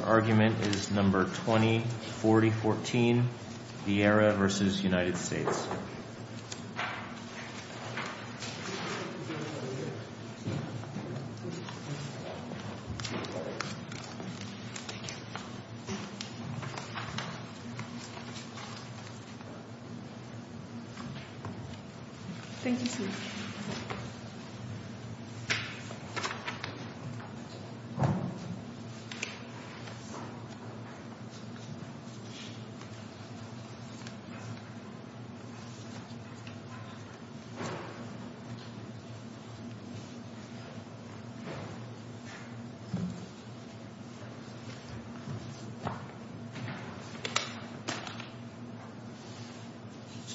Argument No. 204014, Vieira v. United States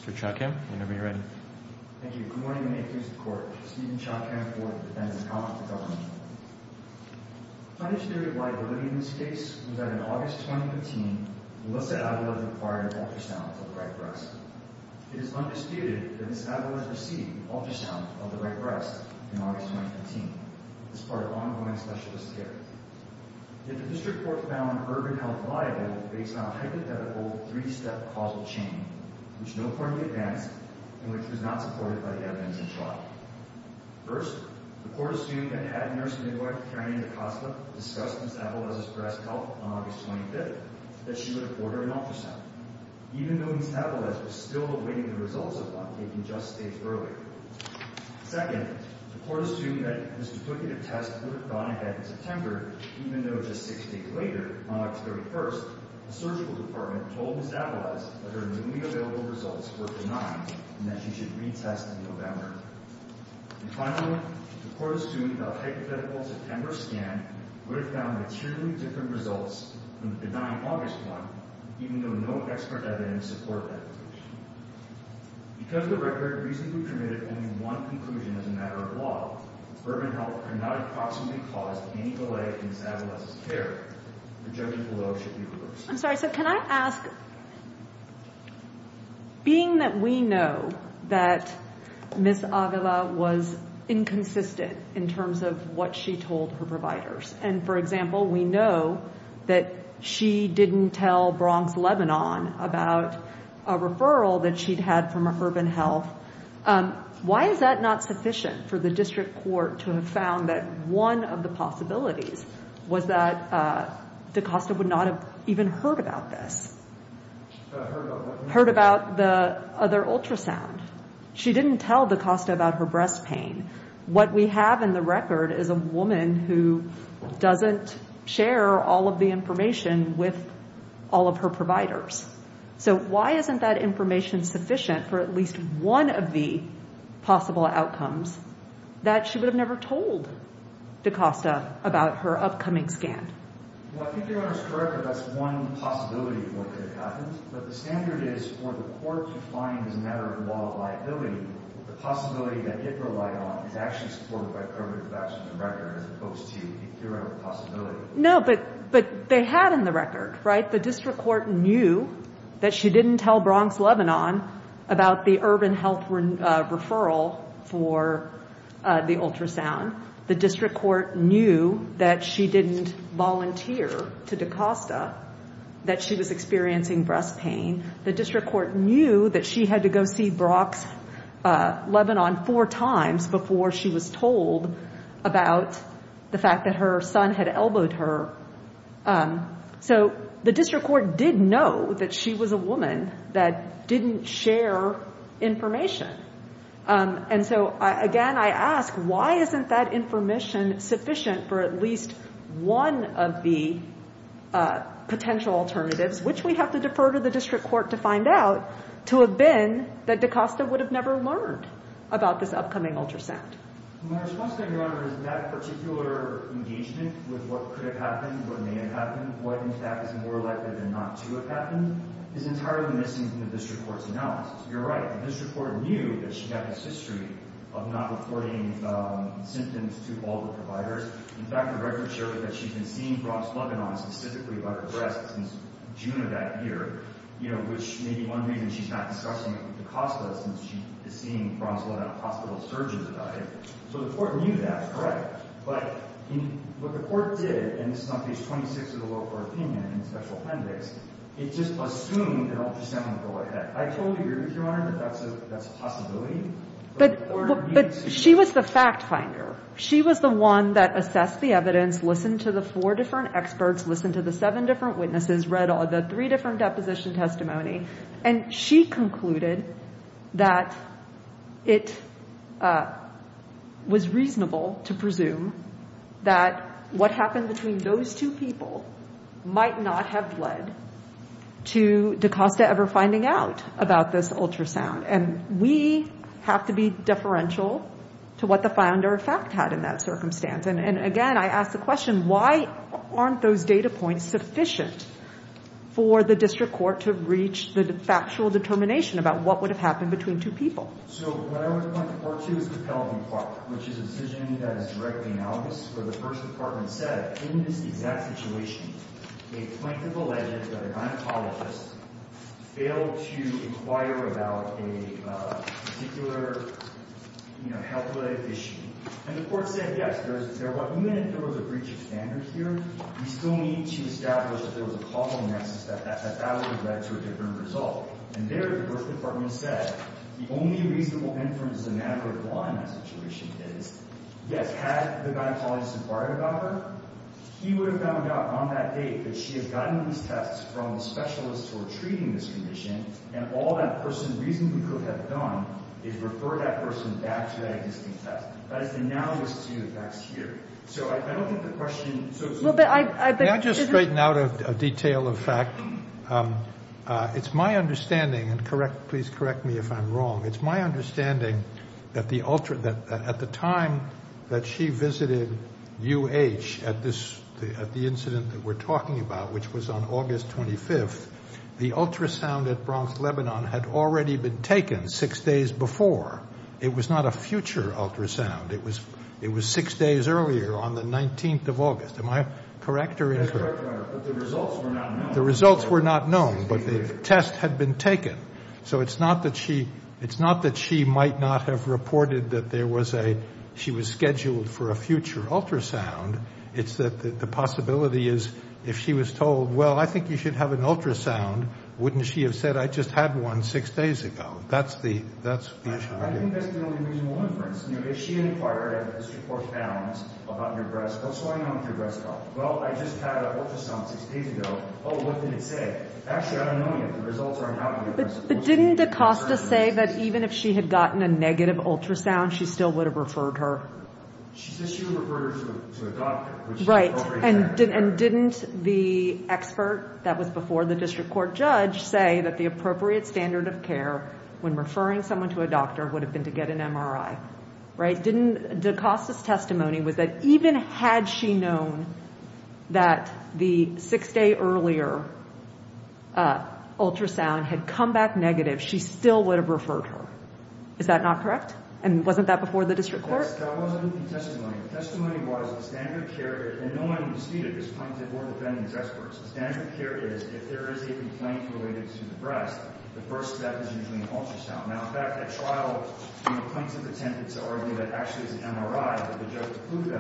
Mr. Chodkamp, whenever you're ready. Thank you. Good morning. May it please the Court. Stephen Chodkamp, IV, Defendant, Accomplice to Government. The foundationary liability in this case was that in August 2015, Melissa Avilez acquired ultrasounds of the right breast. It is undisputed that Ms. Avilez received ultrasounds of the right breast in August 2015. This is part of ongoing specialist care. Yet the District Court found Urban Health liable based on a hypothetical three-step causal chain, which no court had advanced and which was not supported by the evidence First, the Court assumed that head nurse midwife Karen Acosta discussed Ms. Avilez's breast health on August 25th, that she would afford her an ultrasound, even though Ms. Avilez was still awaiting the results of one taken just days earlier. Second, the Court assumed that this duplicative test would have gone ahead in September, even though just six days later, on October 31st, the Surgical Department told Ms. Avilez that her newly available results were benign and that she should retest in November. And finally, the Court assumed that a hypothetical September scan would have found materially different results than the benign August one, even though no expert evidence supported that conclusion. Because the record reasonably permitted only one conclusion as a matter of law, Urban Health could not approximately cause any delay in Ms. Avilez's care. The judgment below should be reversed. I'm sorry, so can I ask, being that we know that Ms. Avilez was inconsistent in terms of what she told her providers, and for example, we know that she didn't tell Bronx-Lebanon about a referral that she'd had from Urban Health, why is that not sufficient for the District Court to have found that one of the possibilities was that Acosta would not have even heard about this? Heard about what? Heard about the other ultrasound. She didn't tell Acosta about her breast pain. What we have in the record is a woman who doesn't share all of the information with all of her providers. So why isn't that information sufficient for at least one of the possible outcomes that she would have never told Acosta about her upcoming scan? Well, I think you're almost correct that that's one possibility of what could have happened, but the standard is for the court to find as a matter of law of liability, the possibility that it relied on is actually supported by permanent facts in the record as opposed to a theoretical possibility. No, but they had in the record, right? The District Court knew that she didn't tell Bronx-Lebanon about the Urban Health referral for the ultrasound. The District Court knew that she didn't volunteer to Acosta, that she was experiencing breast pain. The District Court knew that she had to go see Bronx-Lebanon four times before she was told about the fact that her son had elbowed her. So the District Court did know that she was a woman that didn't share information. And so, again, I ask, why isn't that information sufficient for at least one of the potential alternatives, which we have to defer to the District Court to find out, to have been that Acosta would have never learned about this upcoming ultrasound? My response to that, Your Honor, is that particular engagement with what could have happened, what may have happened, what in fact is more likely than not to have happened, is entirely missing from the District Court's analysis. You're right. The District Court knew that she had this history of not reporting symptoms to all the providers. In fact, the record shows that she's been seeing Bronx-Lebanon specifically about her breasts since June of that year, which may be one reason she's not discussing it with Acosta, since she is seeing Bronx-Lebanon hospital surgeons about it. So the Court knew that, correct? But what the Court did, and this is on page 26 of the lower court opinion in the special appendix, it just assumed an ultrasound would go ahead. I told you, Your Honor, that that's a possibility. But she was the fact finder. She was the one that assessed the evidence, listened to the four different experts, listened to the seven different witnesses, read all the three different deposition testimony, and she concluded that it was reasonable to presume that what happened between those two people might not have led to Acosta ever finding out about this ultrasound. And we have to be deferential to what the finder of fact had in that circumstance. And again, I ask the question, why aren't those data points sufficient for the District Court to reach the factual determination about what would have happened between two people? So what I would point the Court to is the penalty part, which is a decision that is directly analogous, where the First Department said, in this exact situation, a plaintiff alleged that an oncologist failed to inquire about a particular, you know, health-related issue. And the Court said, yes, there was – even if there was a breach of standards here, we still need to establish that there was a causal nexus that that would have led to a different result. And there, the First Department said, the only reasonable inference is a matter of law in that situation is, yes, had the oncologist inquired about her, he would have found out on that date that she had gotten these tests from the specialists who were treating this condition, and all that person reasonably could have done is refer that person back to that existing test. That is analogous to the facts here. So I don't think the question – Well, but I – May I just straighten out a detail of fact? It's my understanding – and correct, please correct me if I'm wrong – it's my understanding that the – at the time that she visited U.H. at this – at the incident that we're talking about, which was on August 25th, the ultrasound at Bronx-Lebanon had already been taken six days before. It was not a future ultrasound. It was six days earlier, on the 19th of August. Am I correct or incorrect? That's correct, but the results were not known. The results were not known, but the test had been taken. So it's not that she – it's not that she might not have reported that there was a – she was scheduled for a future ultrasound. It's that the possibility is, if she was told, well, I think you should have an ultrasound, wouldn't she have said, I just had one six days ago? That's the – that's the issue. I think that's the only reasonable inference. You know, if she inquired, as Well, I just had an ultrasound six days ago. Oh, what did it say? Actually, I don't know yet. The results aren't out yet. But didn't DaCosta say that even if she had gotten a negative ultrasound, she still would have referred her? She said she would have referred her to a doctor. Right, and didn't the expert that was before the district court judge say that the appropriate standard of care when referring someone to a doctor would have been to that the six-day earlier ultrasound had come back negative, she still would have referred her? Is that not correct? And wasn't that before the district court? That wasn't the testimony. The testimony was the standard of care – and no one disputed this point, the board of defendants experts. The standard of care is, if there is a complaint related to the breast, the first step is usually an ultrasound. Now, in fact, at trial, you know, plaintiffs attempted to argue that actually it was a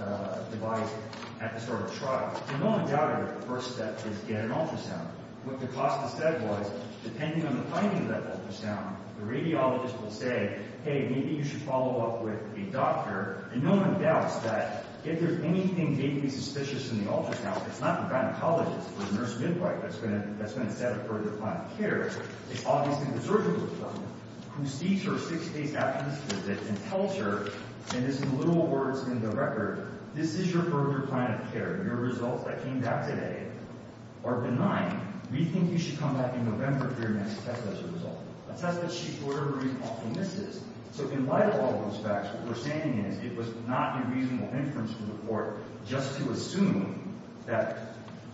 non-devised episodic trial, and no one doubted that the first step is get an ultrasound. What DaCosta said was, depending on the timing of that ultrasound, the radiologist will say, hey, maybe you should follow up with a doctor, and no one doubts that if there's anything maybe suspicious in the ultrasound, it's not the gynecologist or the nurse midwife that's going to set a further plan of care, it's obviously the record, this is your further plan of care, and your results that came back today are benign. We think you should come back in November for your next test as a result. A test that she for whatever reason often misses. So in light of all those facts, what we're saying is it was not a reasonable inference from the court just to assume that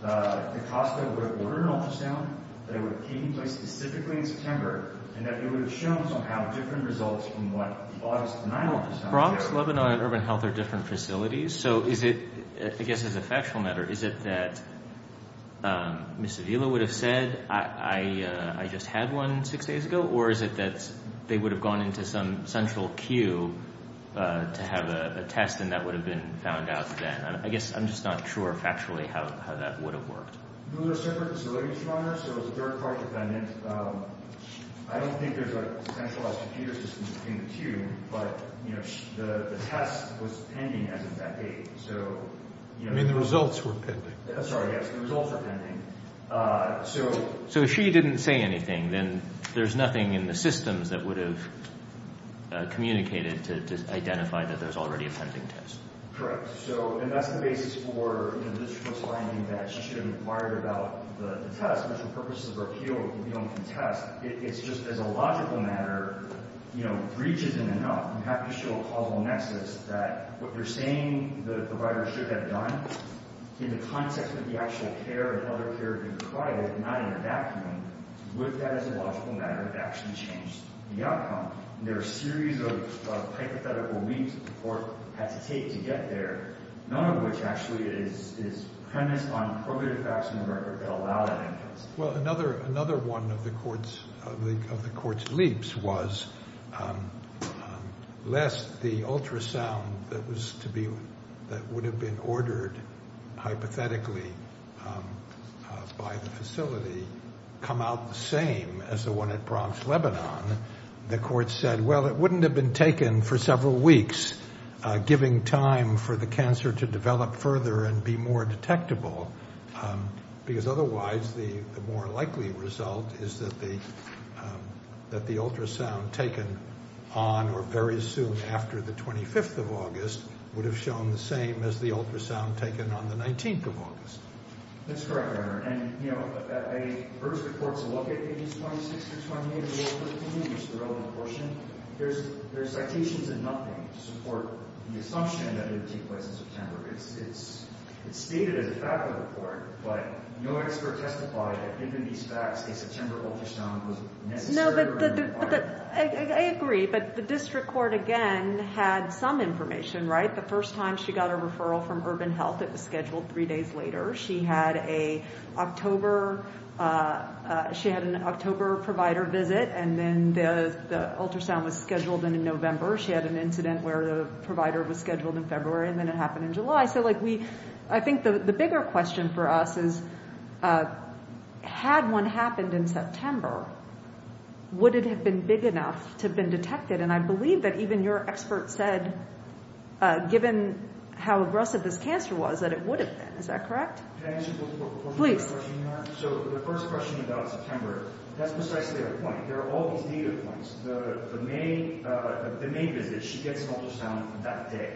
DaCosta would have ordered an ultrasound, that it would have taken place specifically in September, and that it would have shown somehow different results from what the doctor said. So is it, I guess as a factual matter, is it that Ms. Avila would have said, I just had one six days ago, or is it that they would have gone into some central queue to have a test and that would have been found out then? I guess I'm just not sure factually how that would have worked. It was a third-party defendant. I don't think there's a centralized computer system between the two, but the test was pending as of that date. You mean the results were pending? Sorry, yes, the results were pending. So if she didn't say anything, then there's nothing in the systems that would have communicated to identify that there's already a pending test. Correct. So, and that's the basis for the district was finding that she should have inquired about the test, which for purposes of appeal, we don't contest. It's just as a logical matter, you know, breach isn't enough. You have to show a causal nexus that what you're saying the provider should have done in the context of the actual care and other care being provided, not in a vacuum. Would that as a logical matter have actually changed the outcome? There are a series of hypothetical leaps that the court had to take to get there, none of which actually is premised on probative facts in the record that allow that inference. Well, another one of the court's leaps was lest the ultrasound that would have been ordered hypothetically by the facility come out the same as the one at Bronx-Lebanon, the court said, well, it wouldn't have been taken for several weeks, giving time for the cancer to develop further and be more detectable, because otherwise the more likely result is that the ultrasound taken on or very soon after the 25th of August would have shown the same as the ultrasound taken on the 19th of August. That's correct, Your Honor. And, you know, the first report's a look at pages 26 through 28 of Rule 13, which is the relevant portion. There's citations and nothing to support the assumption that it would take place in September. It's stated as a fact in the report, but no expert testified that given these facts a September ultrasound was necessary or required. I agree, but the district court, again, had some information, right? The first time she got a referral from Urban Health it was scheduled three days later. She had an October provider visit, and then the ultrasound was scheduled in November. She had an incident where the provider was scheduled in February, and then it happened in July. So, like, I think the bigger question for us is, had one happened in September, would it have been big enough to have been detected? And I believe that even your expert said, given how aggressive this cancer was, that it would have been. Is that correct? Can I ask you one more question, Your Honor? Please. So the first question about September, that's precisely her point. There are all these data points. The May visit, she gets an ultrasound that day.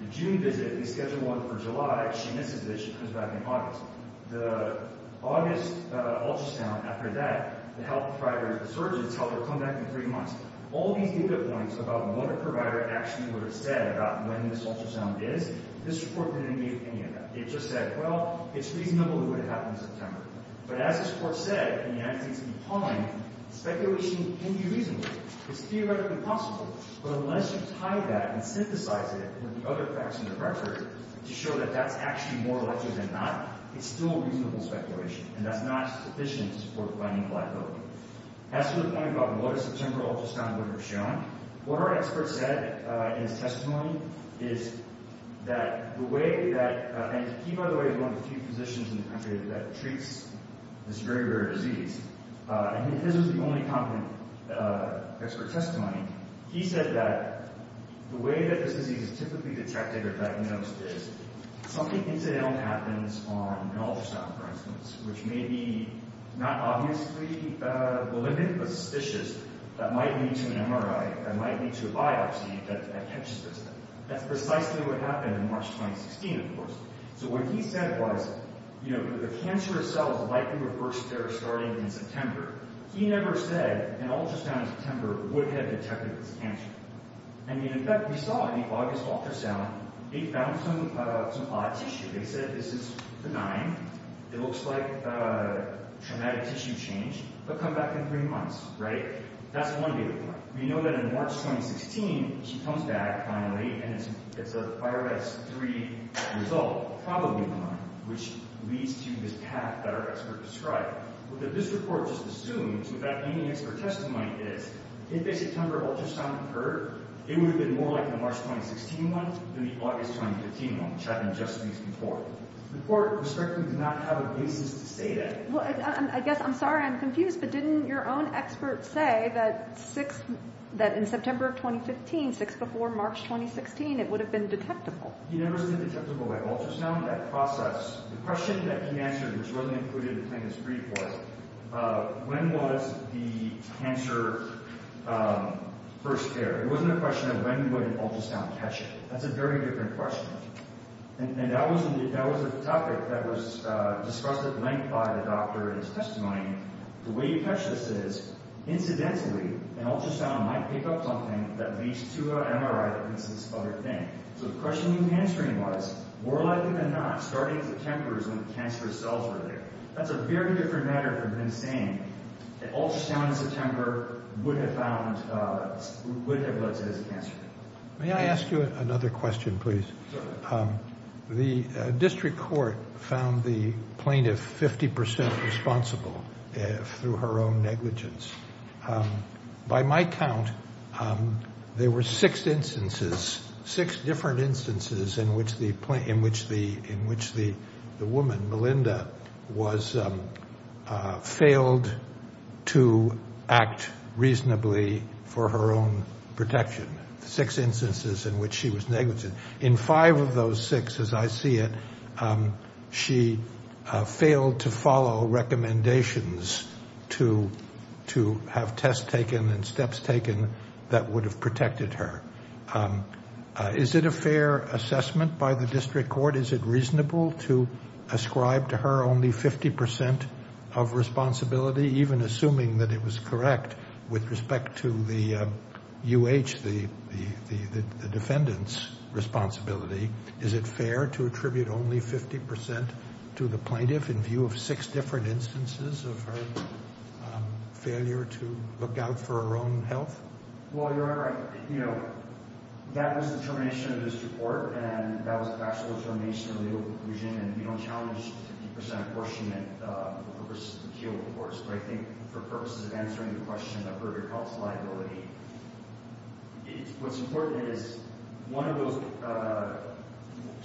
The June visit, they schedule one for July. She misses it. She comes back in August. The August ultrasound, after that, the health providers, the surgeons tell her, come back in three months. All these data points about when a provider actually would have said about when this ultrasound is, this report didn't make any of that. It just said, well, it's reasonable it would have happened in September. But as this court said, and the evidence needs to be pawned, speculation can be reasonable. It's theoretically possible. But unless you tie that and synthesize it with the other facts in the record to show that that's actually more likely than not, it's still reasonable speculation, and that's not sufficient to support planning and pliability. As to the point about what a September ultrasound would have shown, what our expert said in his testimony is that the way that, and he, by the way, is one of the few physicians in the country that treats this very rare disease, and his was the only competent expert testimony. He said that the way that this disease is typically detected or diagnosed is something incidental happens on an ultrasound, for instance, which may be not obviously malignant, but suspicious, that might lead to an MRI, that might lead to a biopsy, that catches this. That's precisely what happened in March 2016, of course. So what he said was, you know, the cancer itself is likely reversed there starting in September. He never said an ultrasound in September would have detected this cancer. I mean, in fact, we saw in the August ultrasound, they found some odd tissue. They said this is benign. It looks like traumatic tissue change, but come back in three months, right? That's one day report. We know that in March 2016, she comes back, finally, and it's a Fyre-S3 result, probably benign, which leads to this path that our expert described. What this report just assumes, with that being the expert testimony, is if a September ultrasound occurred, it would have been more like the March 2016 one than the August 2015 one, which happened just weeks before. The court, respectively, did not have a basis to say that. Well, I guess I'm sorry I'm confused, but didn't your own expert say that in September 2015, six before March 2016, it would have been detectable? He never said detectable by ultrasound. That process, the question that he answered, which wasn't included in the plaintiff's brief was, when was the cancer first there? It wasn't a question of when would an ultrasound catch it. That's a very different question. And that was a topic that was discussed at length by the doctor in his testimony. The way you catch this is, incidentally, an ultrasound might pick up something that leads to an MRI that leads to this other thing. So the question he was answering was, more likely than not, starting in September is when the cancerous cells were there. That's a very different matter from him saying an ultrasound in September would have led to his cancer. May I ask you another question, please? The district court found the plaintiff 50% responsible through her own negligence. By my count, there were six instances, six different instances, in which the woman, Melinda, failed to act reasonably for her own protection. Six instances in which she was negligent. In five of those six, as I see it, she failed to follow recommendations to have tests taken and steps taken that would have protected her. Is it a fair assessment by the district court? Is it reasonable to ascribe to her only 50% of responsibility, even assuming that it was correct with respect to the UH, the defendant's responsibility? Is it fair to attribute only 50% to the plaintiff in view of six different instances of her failure to look out for her own health? Well, you're right. You know, that was the determination of the district court, and that was the actual determination of the legal conclusion, and we don't challenge 50% apportionment for the purposes of the appeal, of course, but I think for purposes of answering the question of her health liability, what's important is one of those,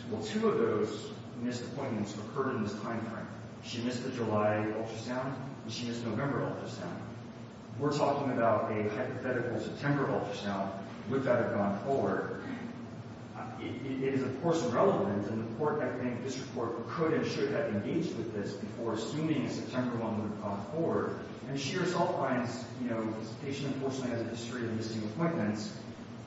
well, two of those missed appointments occurred in this time frame. She missed the July ultrasound, and she missed the November ultrasound. We're talking about a hypothetical September ultrasound. Would that have gone forward? It is, of course, irrelevant, and the court, I think, district court could and should have engaged with this before assuming September 1 would have gone forward, and she herself finds, you know, this patient unfortunately has a history of missing appointments.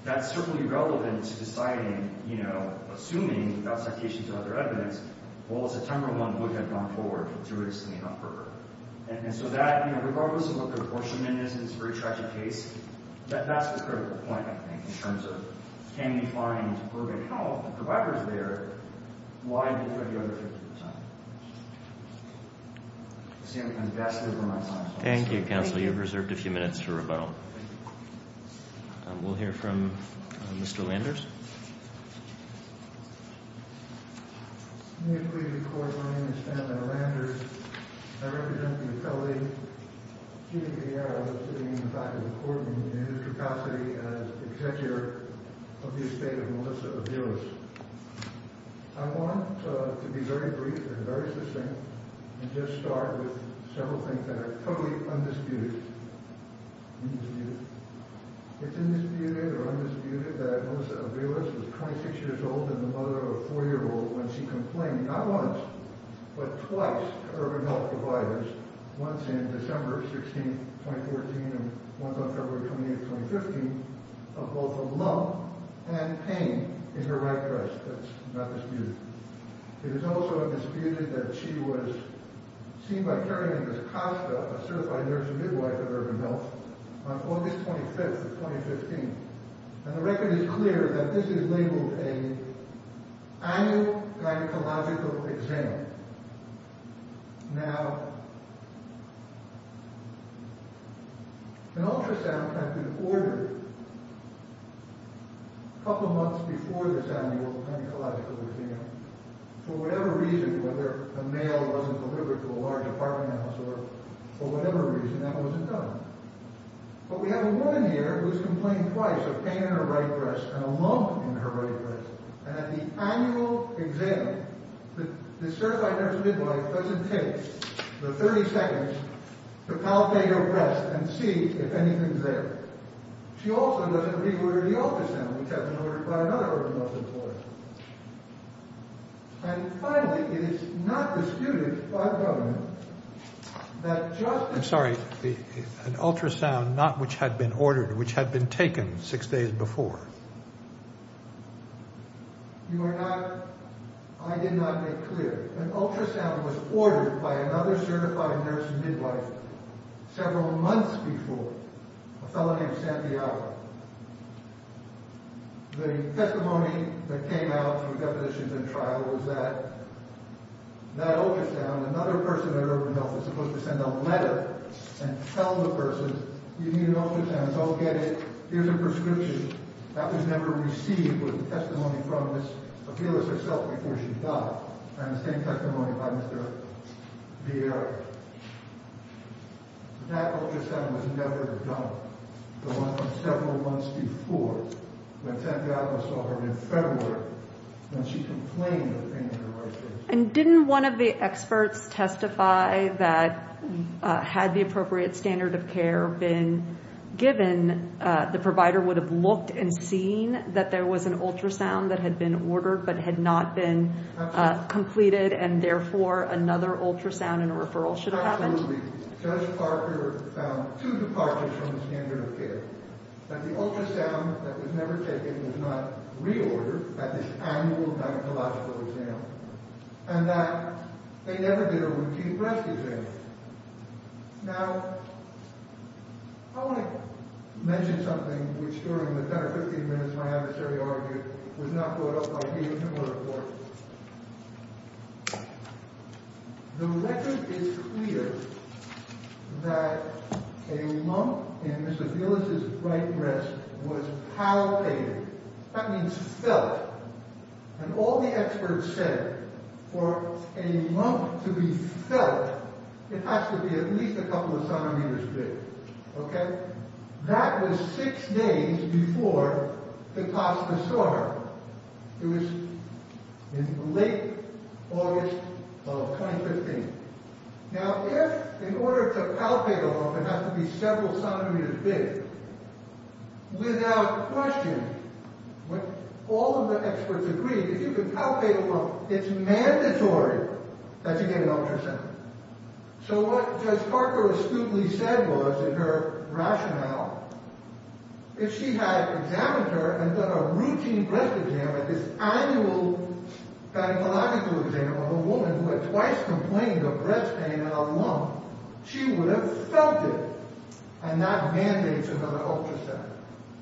That's certainly relevant to deciding, you know, assuming without citations or other evidence, well, September 1 would have gone forward to release the neon for her. And so that, you know, regardless of what the apportionment is, it's a very tragic case, that's the critical point, I think, in terms of can we find appropriate health providers there? Why do we put the other 50%? I see I'm kind of gasping for my time. Thank you, counsel. You've reserved a few minutes for rebuttal. We'll hear from Mr. Landers. May it please the court, my name is Benjamin Landers. I represent the appellee, Judy Vieira, who is sitting in the back of the court room in a new capacity as executor of the estate of Melissa Aviles. I want to be very brief and very succinct and just start with several things that are totally undisputed. Undisputed. It's undisputed or undisputed that Melissa Aviles was 26 years old and the mother of a 4-year-old when she complained, not once, but twice, to urban health providers, once in December 16, 2014, and once on February 28, 2015, of both a lump and pain in her right breast. That's not disputed. It is also undisputed that she was seen by Karen Angus Costa, a certified nurse midwife at urban health, on August 25, 2015. And the record is clear that this is labeled an annual gynecological exam. Now, an ultrasound had been ordered a couple of months before this annual gynecological exam for whatever reason, whether a male wasn't delivered to a large apartment house or whatever reason, that wasn't done. But we have a woman here who's complained twice of pain in her right breast and a lump in her right breast. And at the annual exam, the certified nurse midwife doesn't take the 30 seconds to palpate her breast and see if anything's there. She also doesn't reorder the ultrasound, which has been ordered by another urban health employer. And finally, it is not disputed by the government that just... I'm sorry. An ultrasound, not which had been ordered, which had been taken six days before. You are not... I did not make clear. An ultrasound was ordered by another certified nurse midwife several months before, a fellow named Santiago. The testimony that came out through definitions and trial was that that ultrasound, another person at urban health was supposed to send a letter and tell the person, you need an ultrasound. Don't get it. Here's a prescription. That was never received with the testimony from this appealist herself before she died. And the same testimony by Mr. Vieira. That ultrasound was never done. The one from several months before, when Santiago saw her in February, when she complained of things in her life. And didn't one of the experts testify that had the appropriate standard of care been given, the provider would have looked and seen that there was an ultrasound that had been ordered but had not been completed, and therefore another ultrasound and a referral should have happened? Absolutely. Judge Parker found two departures from the standard of care. That the ultrasound that was never taken was not reordered at this annual gynecological exam. And that they never did a routine breast exam. Now, I want to mention something, which during the 10 or 15 minutes my adversary argued, was not brought up by me in a similar report. The record is clear that a lump in Mr. Villas' right breast was palpated. That means felt. And all the experts said, for a lump to be felt, it has to be at least a couple of centimeters big. Okay? That was six days before the class disorder. It was in late August of 2015. Now if, in order to palpate a lump, it has to be several centimeters big, without question, all of the experts agreed, if you can palpate a lump, it's mandatory that you get an ultrasound. So what Judge Parker astutely said was, in her rationale, if she had examined her and done a routine breast exam at this annual gynecological exam on a woman who had twice complained of breast pain and a lump, she would have felt it. And that mandates another ultrasound.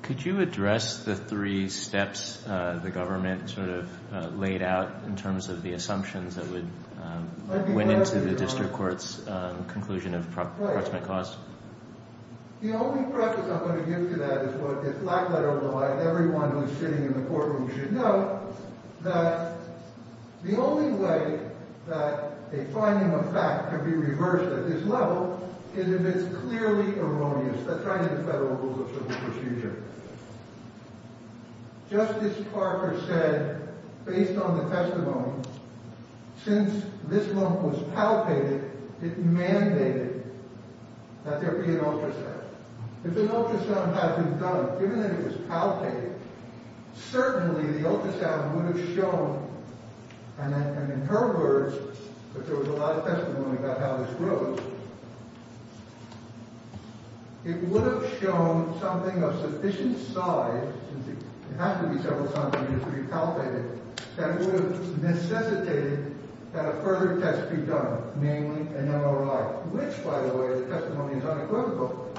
Could you address the three steps the government sort of laid out in terms of the assumptions that went into the district court's conclusion of approximate cause? The only preface I'm going to give to that is what this black letter would imply to everyone who's sitting in the courtroom should know, that the only way that a finding of fact could be reversed at this level is if it's clearly erroneous. That's right in the federal rules of civil procedure. Justice Parker said, based on the testimony, since this lump was palpated, it mandated that there be an ultrasound. If an ultrasound hadn't been done, given that it was palpated, certainly the ultrasound would have shown, and in her words, if there was a lot of testimony about how this grows, it would have shown something of sufficient size, since it has to be several centimeters to be palpated, that it would have necessitated that a further test be done, namely an MRI, which, by the way, the testimony is unequivocal,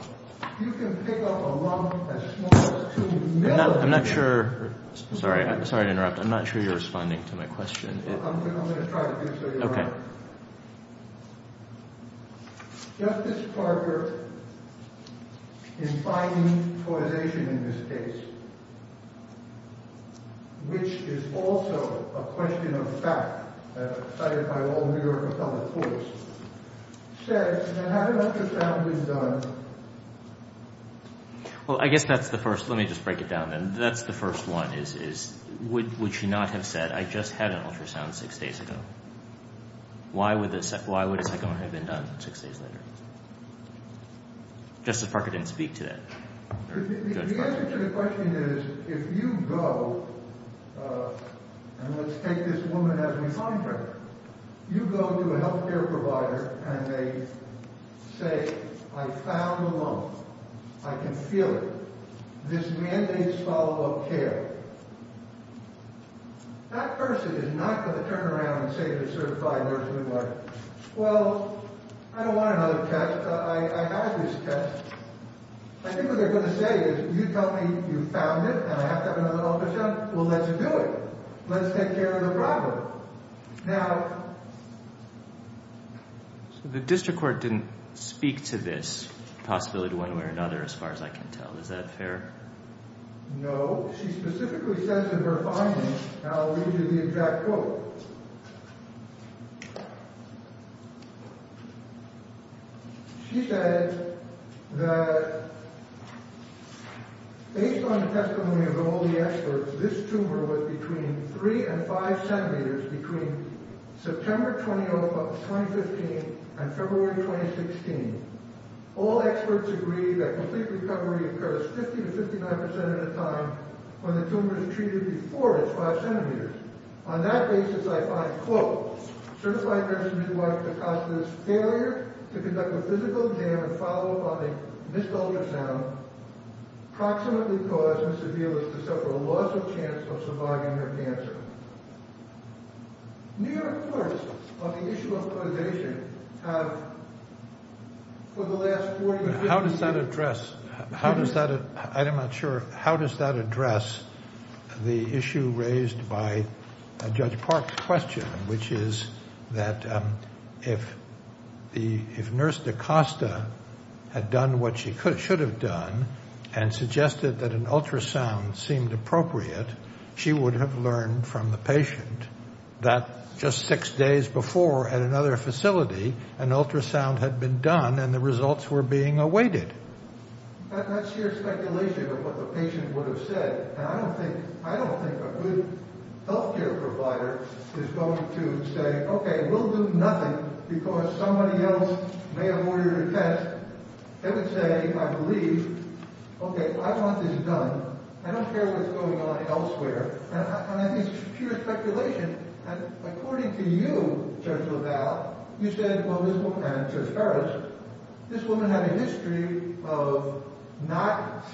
you can pick up a lump as small as two millimeters. I'm not sure... Sorry to interrupt. I'm not sure you're responding to my question. I'm going to try to do so. Okay. Justice Parker, in finding causation in this case, which is also a question of fact, as cited by all New York public courts, says that had an ultrasound been done... Well, I guess that's the first... Let me just break it down, then. That's the first one is, would she not have said, I just had an ultrasound six days ago? Why would a second one have been done six days later? Justice Parker didn't speak to that. The answer to the question is, if you go, and let's take this woman as we find her, you go to a health care provider, and they say, I found a lump. I can feel it. This mandates follow-up care. That person is not going to turn around and say to the certified nurse of New York, well, I don't want another test. I have this test. I think what they're going to say is, you tell me you found it, and I have to have another ultrasound. Well, let's do it. Let's take care of the driver. Now... The district court didn't speak to this possibility one way or another, as far as I can tell. Is that fair? No. She specifically says in her findings, and I'll read you the exact quote. She said that, based on the testimony of all the experts, this tumor was between 3 and 5 centimeters between September 20, 2015, and February 2016. All experts agree that complete recovery occurs 50 to 59% of the time when the tumor is treated before it's 5 centimeters. On that basis, I find, quote, certified nurse Midwife Picasso's failure to conduct a physical exam and follow-up on a missed ultrasound approximately caused Ms. Avila's to suffer a loss of chance of surviving her cancer. New York courts on the issue of immunization have, for the last 45 years... How does that address... I'm not sure. How does that address the issue raised by Judge Park's question, which is that if Nurse DaCosta had done what she should have done she would have learned from the patient that just six days before at another facility an ultrasound had been done and the results were being awaited. That's sheer speculation of what the patient would have said. And I don't think a good healthcare provider is going to say, OK, we'll do nothing because somebody else may have ordered a test. They would say, I believe, OK, I want this done. I don't care what's going on elsewhere. And I think it's sheer speculation. And according to you, Judge LaValle, you said, well, this woman, and Judge Ferris, this woman had a history of not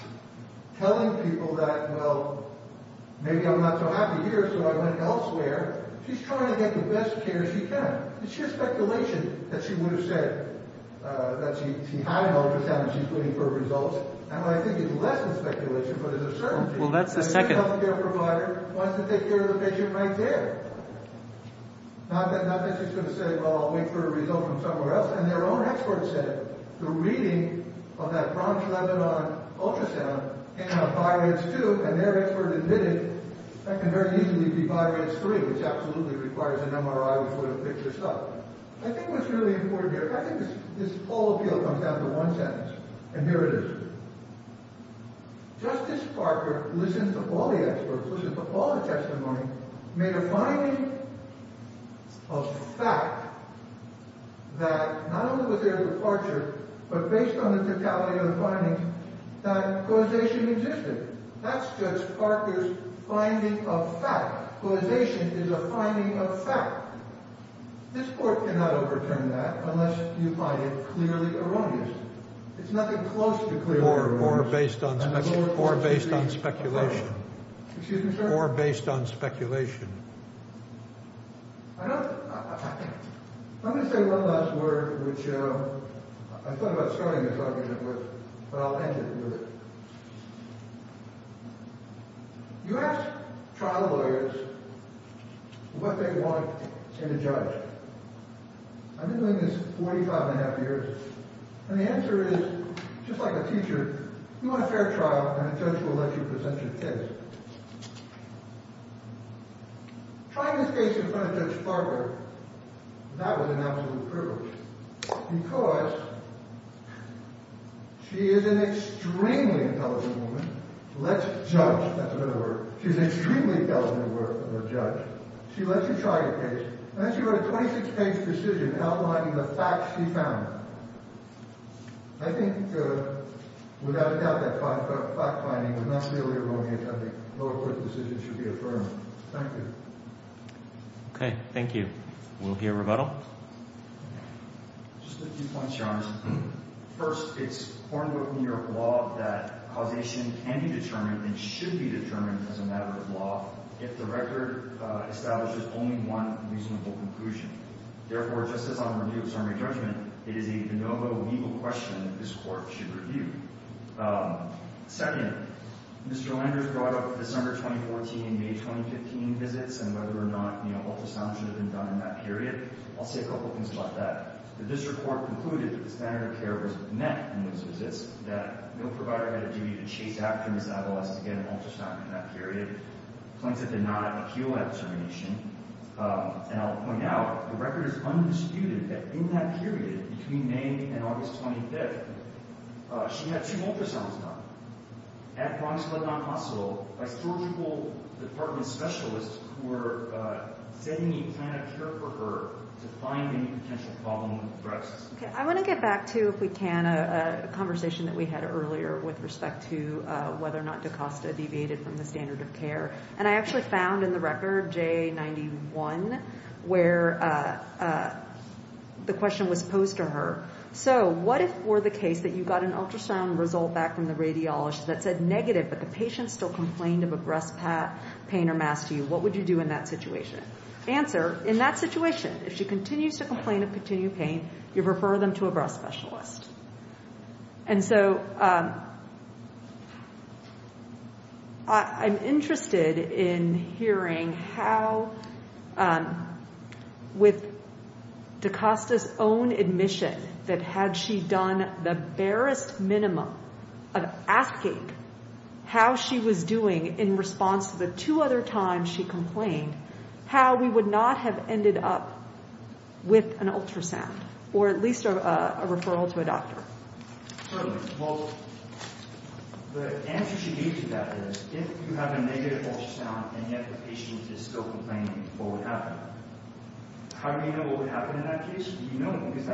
telling people that, well, maybe I'm not so happy here so I went elsewhere. She's trying to get the best care she can. It's sheer speculation that she would have said that she had an ultrasound and she's waiting for results. And what I think is less than speculation but is a certainty... A good healthcare provider wants to take care of the patient right there. Not that she's going to say, well, I'll wait for a result from somewhere else. And their own experts said the reading of that Bronx-Lebanon ultrasound came out 5 inch 2 and their expert admitted that can very easily be 5 inch 3, which absolutely requires an MRI which would have fixed this up. I think what's really important here, I think this whole appeal comes down to one sentence. And here it is. Justice Parker listened to all the experts, listened to all the testimony, made a finding of fact that not only was there a departure but based on the totality of the findings that causation existed. That's Judge Parker's finding of fact. Causation is a finding of fact. This court cannot overturn that unless you find it clearly erroneous. It's nothing close to clearly erroneous. Or based on speculation. Excuse me, sir? Or based on speculation. I'm going to say one last word which I thought about starting this argument with but I'll end it with it. You ask trial lawyers what they want in a judge. I've been doing this 45 and a half years and the answer is, just like a teacher, you want a fair trial and a judge will let you present your case. Trying this case in front of Judge Parker, that was an absolute privilege because she is an extremely intelligent woman. Let's judge. That's a better word. She's extremely intelligent of a judge. She lets you try your case and then she wrote a 26-page decision outlining the facts she found. I think, without a doubt, that fact-finding was not clearly erroneous. I think her court decision should be affirmed. Thank you. Okay, thank you. We'll hear rebuttal. Just a few points, Your Honor. First, it's cornered with New York law that causation can be determined and should be determined as a matter of law if the record establishes only one reasonable conclusion. Therefore, just as on the review of summary judgment, it is a no-vote legal question that this court should review. Second, Mr. Landers brought up December 2014 and May 2015 visits and whether or not, you know, ultrasound should have been done in that period. I'll say a couple things about that. The district court concluded that the standard of care was met in those visits, that no provider had a duty to chase after his adolescent to get an ultrasound in that period. Plaintiff did not appeal that determination. And I'll point out, the record is undisputed that in that period, between May and August 25th, she had two ultrasounds done at Bronx Clinic Hospital by surgical department specialists who were setting a plan of care for her to find any potential problem with breast. Okay, I want to get back to, if we can, a conversation that we had earlier with respect to whether or not DaCosta deviated from the standard of care. And I actually found in the record J91, where the question was posed to her. So, what if for the case that you got an ultrasound result back from the radiologist that said negative but the patient still complained of a breast pain or mass to you? What would you do in that situation? Answer, in that situation, if she continues to complain of continued pain, you refer them to a breast specialist. And so, I'm interested in hearing how, with DaCosta's own admission that had she done the barest minimum of asking how she was doing in response to the two other times she complained, how we would not have ended up with an ultrasound or at least a referral to a doctor. Certainly. Well, the answer she gave to that is if you have a negative ultrasound and yet the patient is still complaining, what would happen? How do we know what would happen in that case? Do you know? Because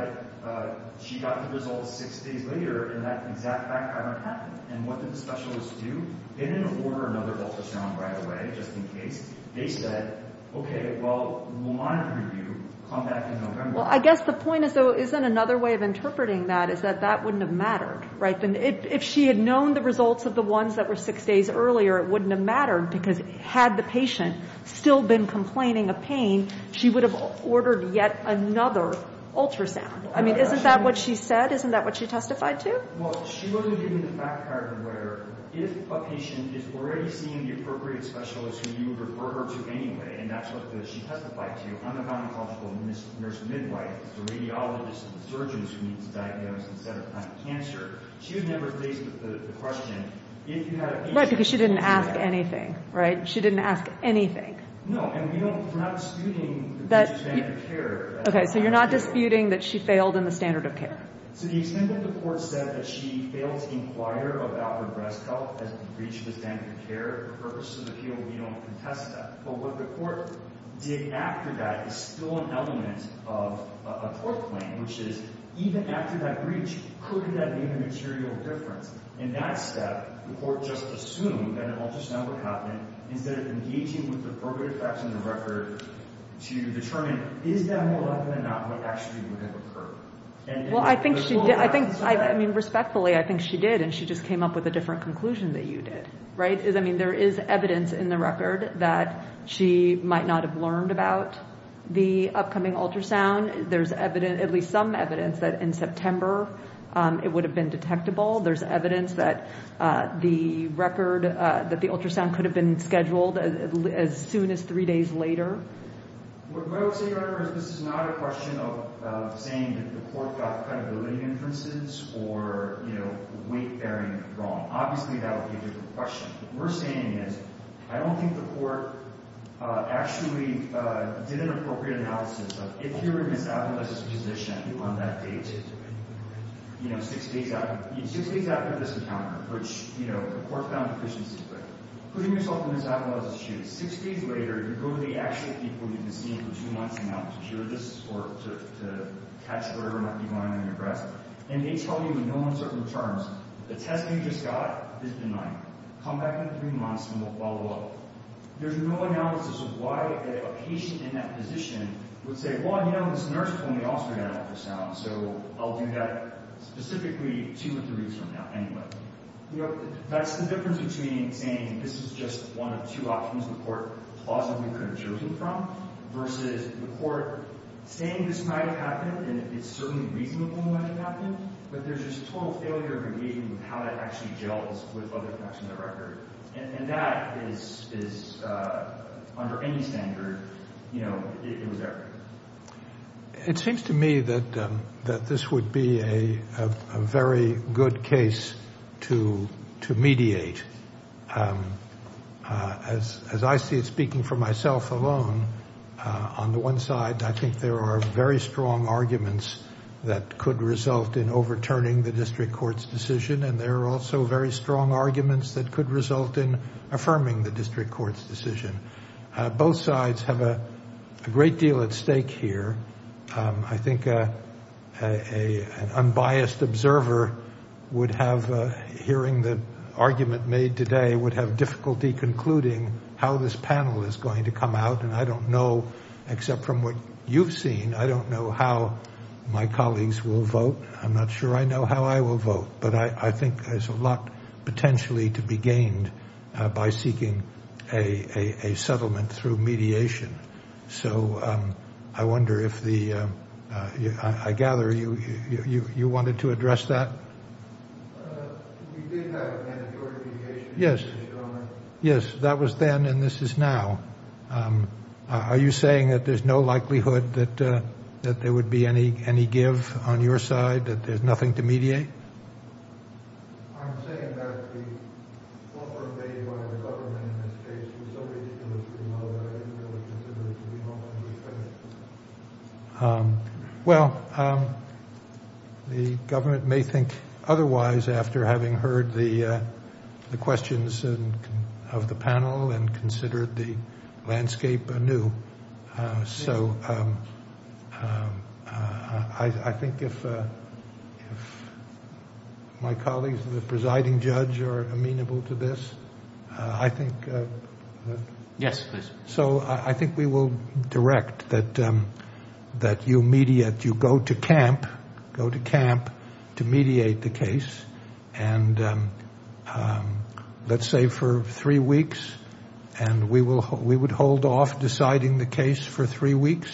she got the results six days later and that exact fact hadn't happened. And what did the specialists do? They didn't order another ultrasound right away, just in case. They said, okay, well, we'll monitor you. Come back in November. Well, I guess the point is, though, isn't another way of interpreting that is that that wouldn't have mattered, right? If she had known the results of the ones that were six days earlier, it wouldn't have mattered because had the patient still been complaining of pain, she would have ordered yet another ultrasound. I mean, isn't that what she said? Isn't that what she testified to? Well, she wasn't giving the fact pattern where if a patient is already seeing the appropriate specialist who you would refer her to anyway, and that's what she testified to, I'm a gynecological nurse midwife. It's a radiologist and a surgeon who needs diagnosis instead of cancer. She was never faced with the question if you had a patient... Right, because she didn't ask anything, right? She didn't ask anything. No, and we're not disputing the standard of care. Okay, so you're not disputing that she failed in the standard of care. So the extent that the court said that she failed to inquire about her breast health as it reached the standard of care for purposes of appeal, we don't contest that. But what the court did after that is still an element of a court claim, which is even after that breach, could that be a material difference? In that step, the court just assumed that it all just now would happen instead of engaging with the appropriate facts in the record to determine is that more likely than not what actually would have occurred? Well, I think she did. I mean, respectfully, I think she did, and she just came up with a different conclusion that you did, right? I mean, there is evidence in the record that she might not have learned about the upcoming ultrasound. There's evidence, at least some evidence, that in September it would have been detectable. There's evidence that the record, that the ultrasound could have been scheduled as soon as three days later. What I would say, Your Honor, is this is not a question of saying that the court got the credibility inferences or weight-bearing wrong. Obviously, that would be a different question. What we're saying is I don't think the court actually did an appropriate analysis of if you were in Ms. Avila's position on that date, you know, six days after this encounter, which, you know, the court found deficiency. But putting yourself in Ms. Avila's shoes, six days later, you go to the actual people you've been seeing for two months now to cure this or to catch whatever might be going on in your breast, and they tell you in no uncertain terms the test you just got is benign. Come back in three months, and we'll follow up. There's no analysis of why a patient in that position would say, well, you know, this nurse told me also to get an ultrasound, so I'll do that specifically two or three weeks from now anyway. You know, that's the difference between saying this is just one of two options the court plausibly could have chosen from versus the court saying this might have happened and it's certainly reasonable when it happened, but there's just total failure of engaging with how that actually gels with other facts on the record. And that is, under any standard, you know, it was there. It seems to me that this would be a very good case to mediate. As I see it, speaking for myself alone, on the one side, I think there are very strong arguments that could result in overturning the district court's decision, and there are also very strong arguments that could result in affirming the district court's decision. Both sides have a great deal at stake here. I think an unbiased observer would have, hearing the argument made today, would have difficulty concluding how this panel is going to come out, and I don't know, except from what you've seen, I don't know how my colleagues will vote. I'm not sure I know how I will vote, but I think there's a lot potentially to be gained by seeking a settlement through mediation. So I wonder if the—I gather you wanted to address that? You did have a mandatory mediation. Yes. Yes, that was then and this is now. Are you saying that there's no likelihood that there would be any give on your side, that there's nothing to mediate? I'm saying that the— Well, the government may think otherwise after having heard the questions of the panel and considered the landscape anew. So I think if my colleagues and the presiding judge are amenable to this, I think— Yes, please. So I think we will direct that you mediate, you go to camp, go to camp to mediate the case, and let's say for three weeks and we would hold off deciding the case for three weeks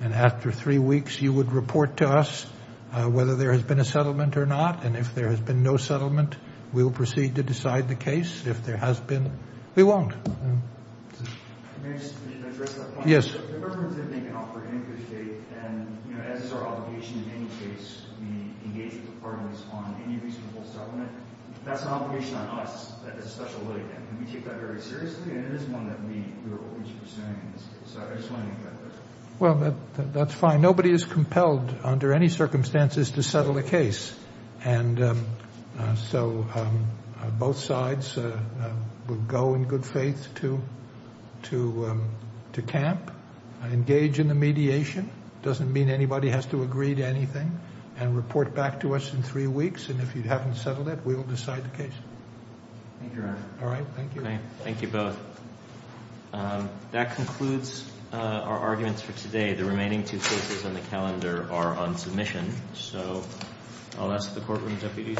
and after three weeks you would report to us whether there has been a settlement or not and if there has been no settlement, we will proceed to decide the case. If there has been, we won't. May I just address that point? Yes. Well, the government said they can offer any good faith and, you know, as is our obligation in any case, we engage with the parties on any reasonable settlement. That's an obligation on us. That is a special litigant and we take that very seriously and it is one that we are always pursuing in this case. So I just wanted to make that clear. Well, that's fine. Nobody is compelled under any circumstances to settle a case. And so both sides will go in good faith to camp, engage in the mediation. It doesn't mean anybody has to agree to anything and report back to us in three weeks and if you haven't settled it, we will decide the case. Thank you, Your Honor. All right. Thank you. Thank you both. That concludes our arguments for today. The remaining two cases on the calendar are on submission. So I'll ask the courtroom deputies to adjourn.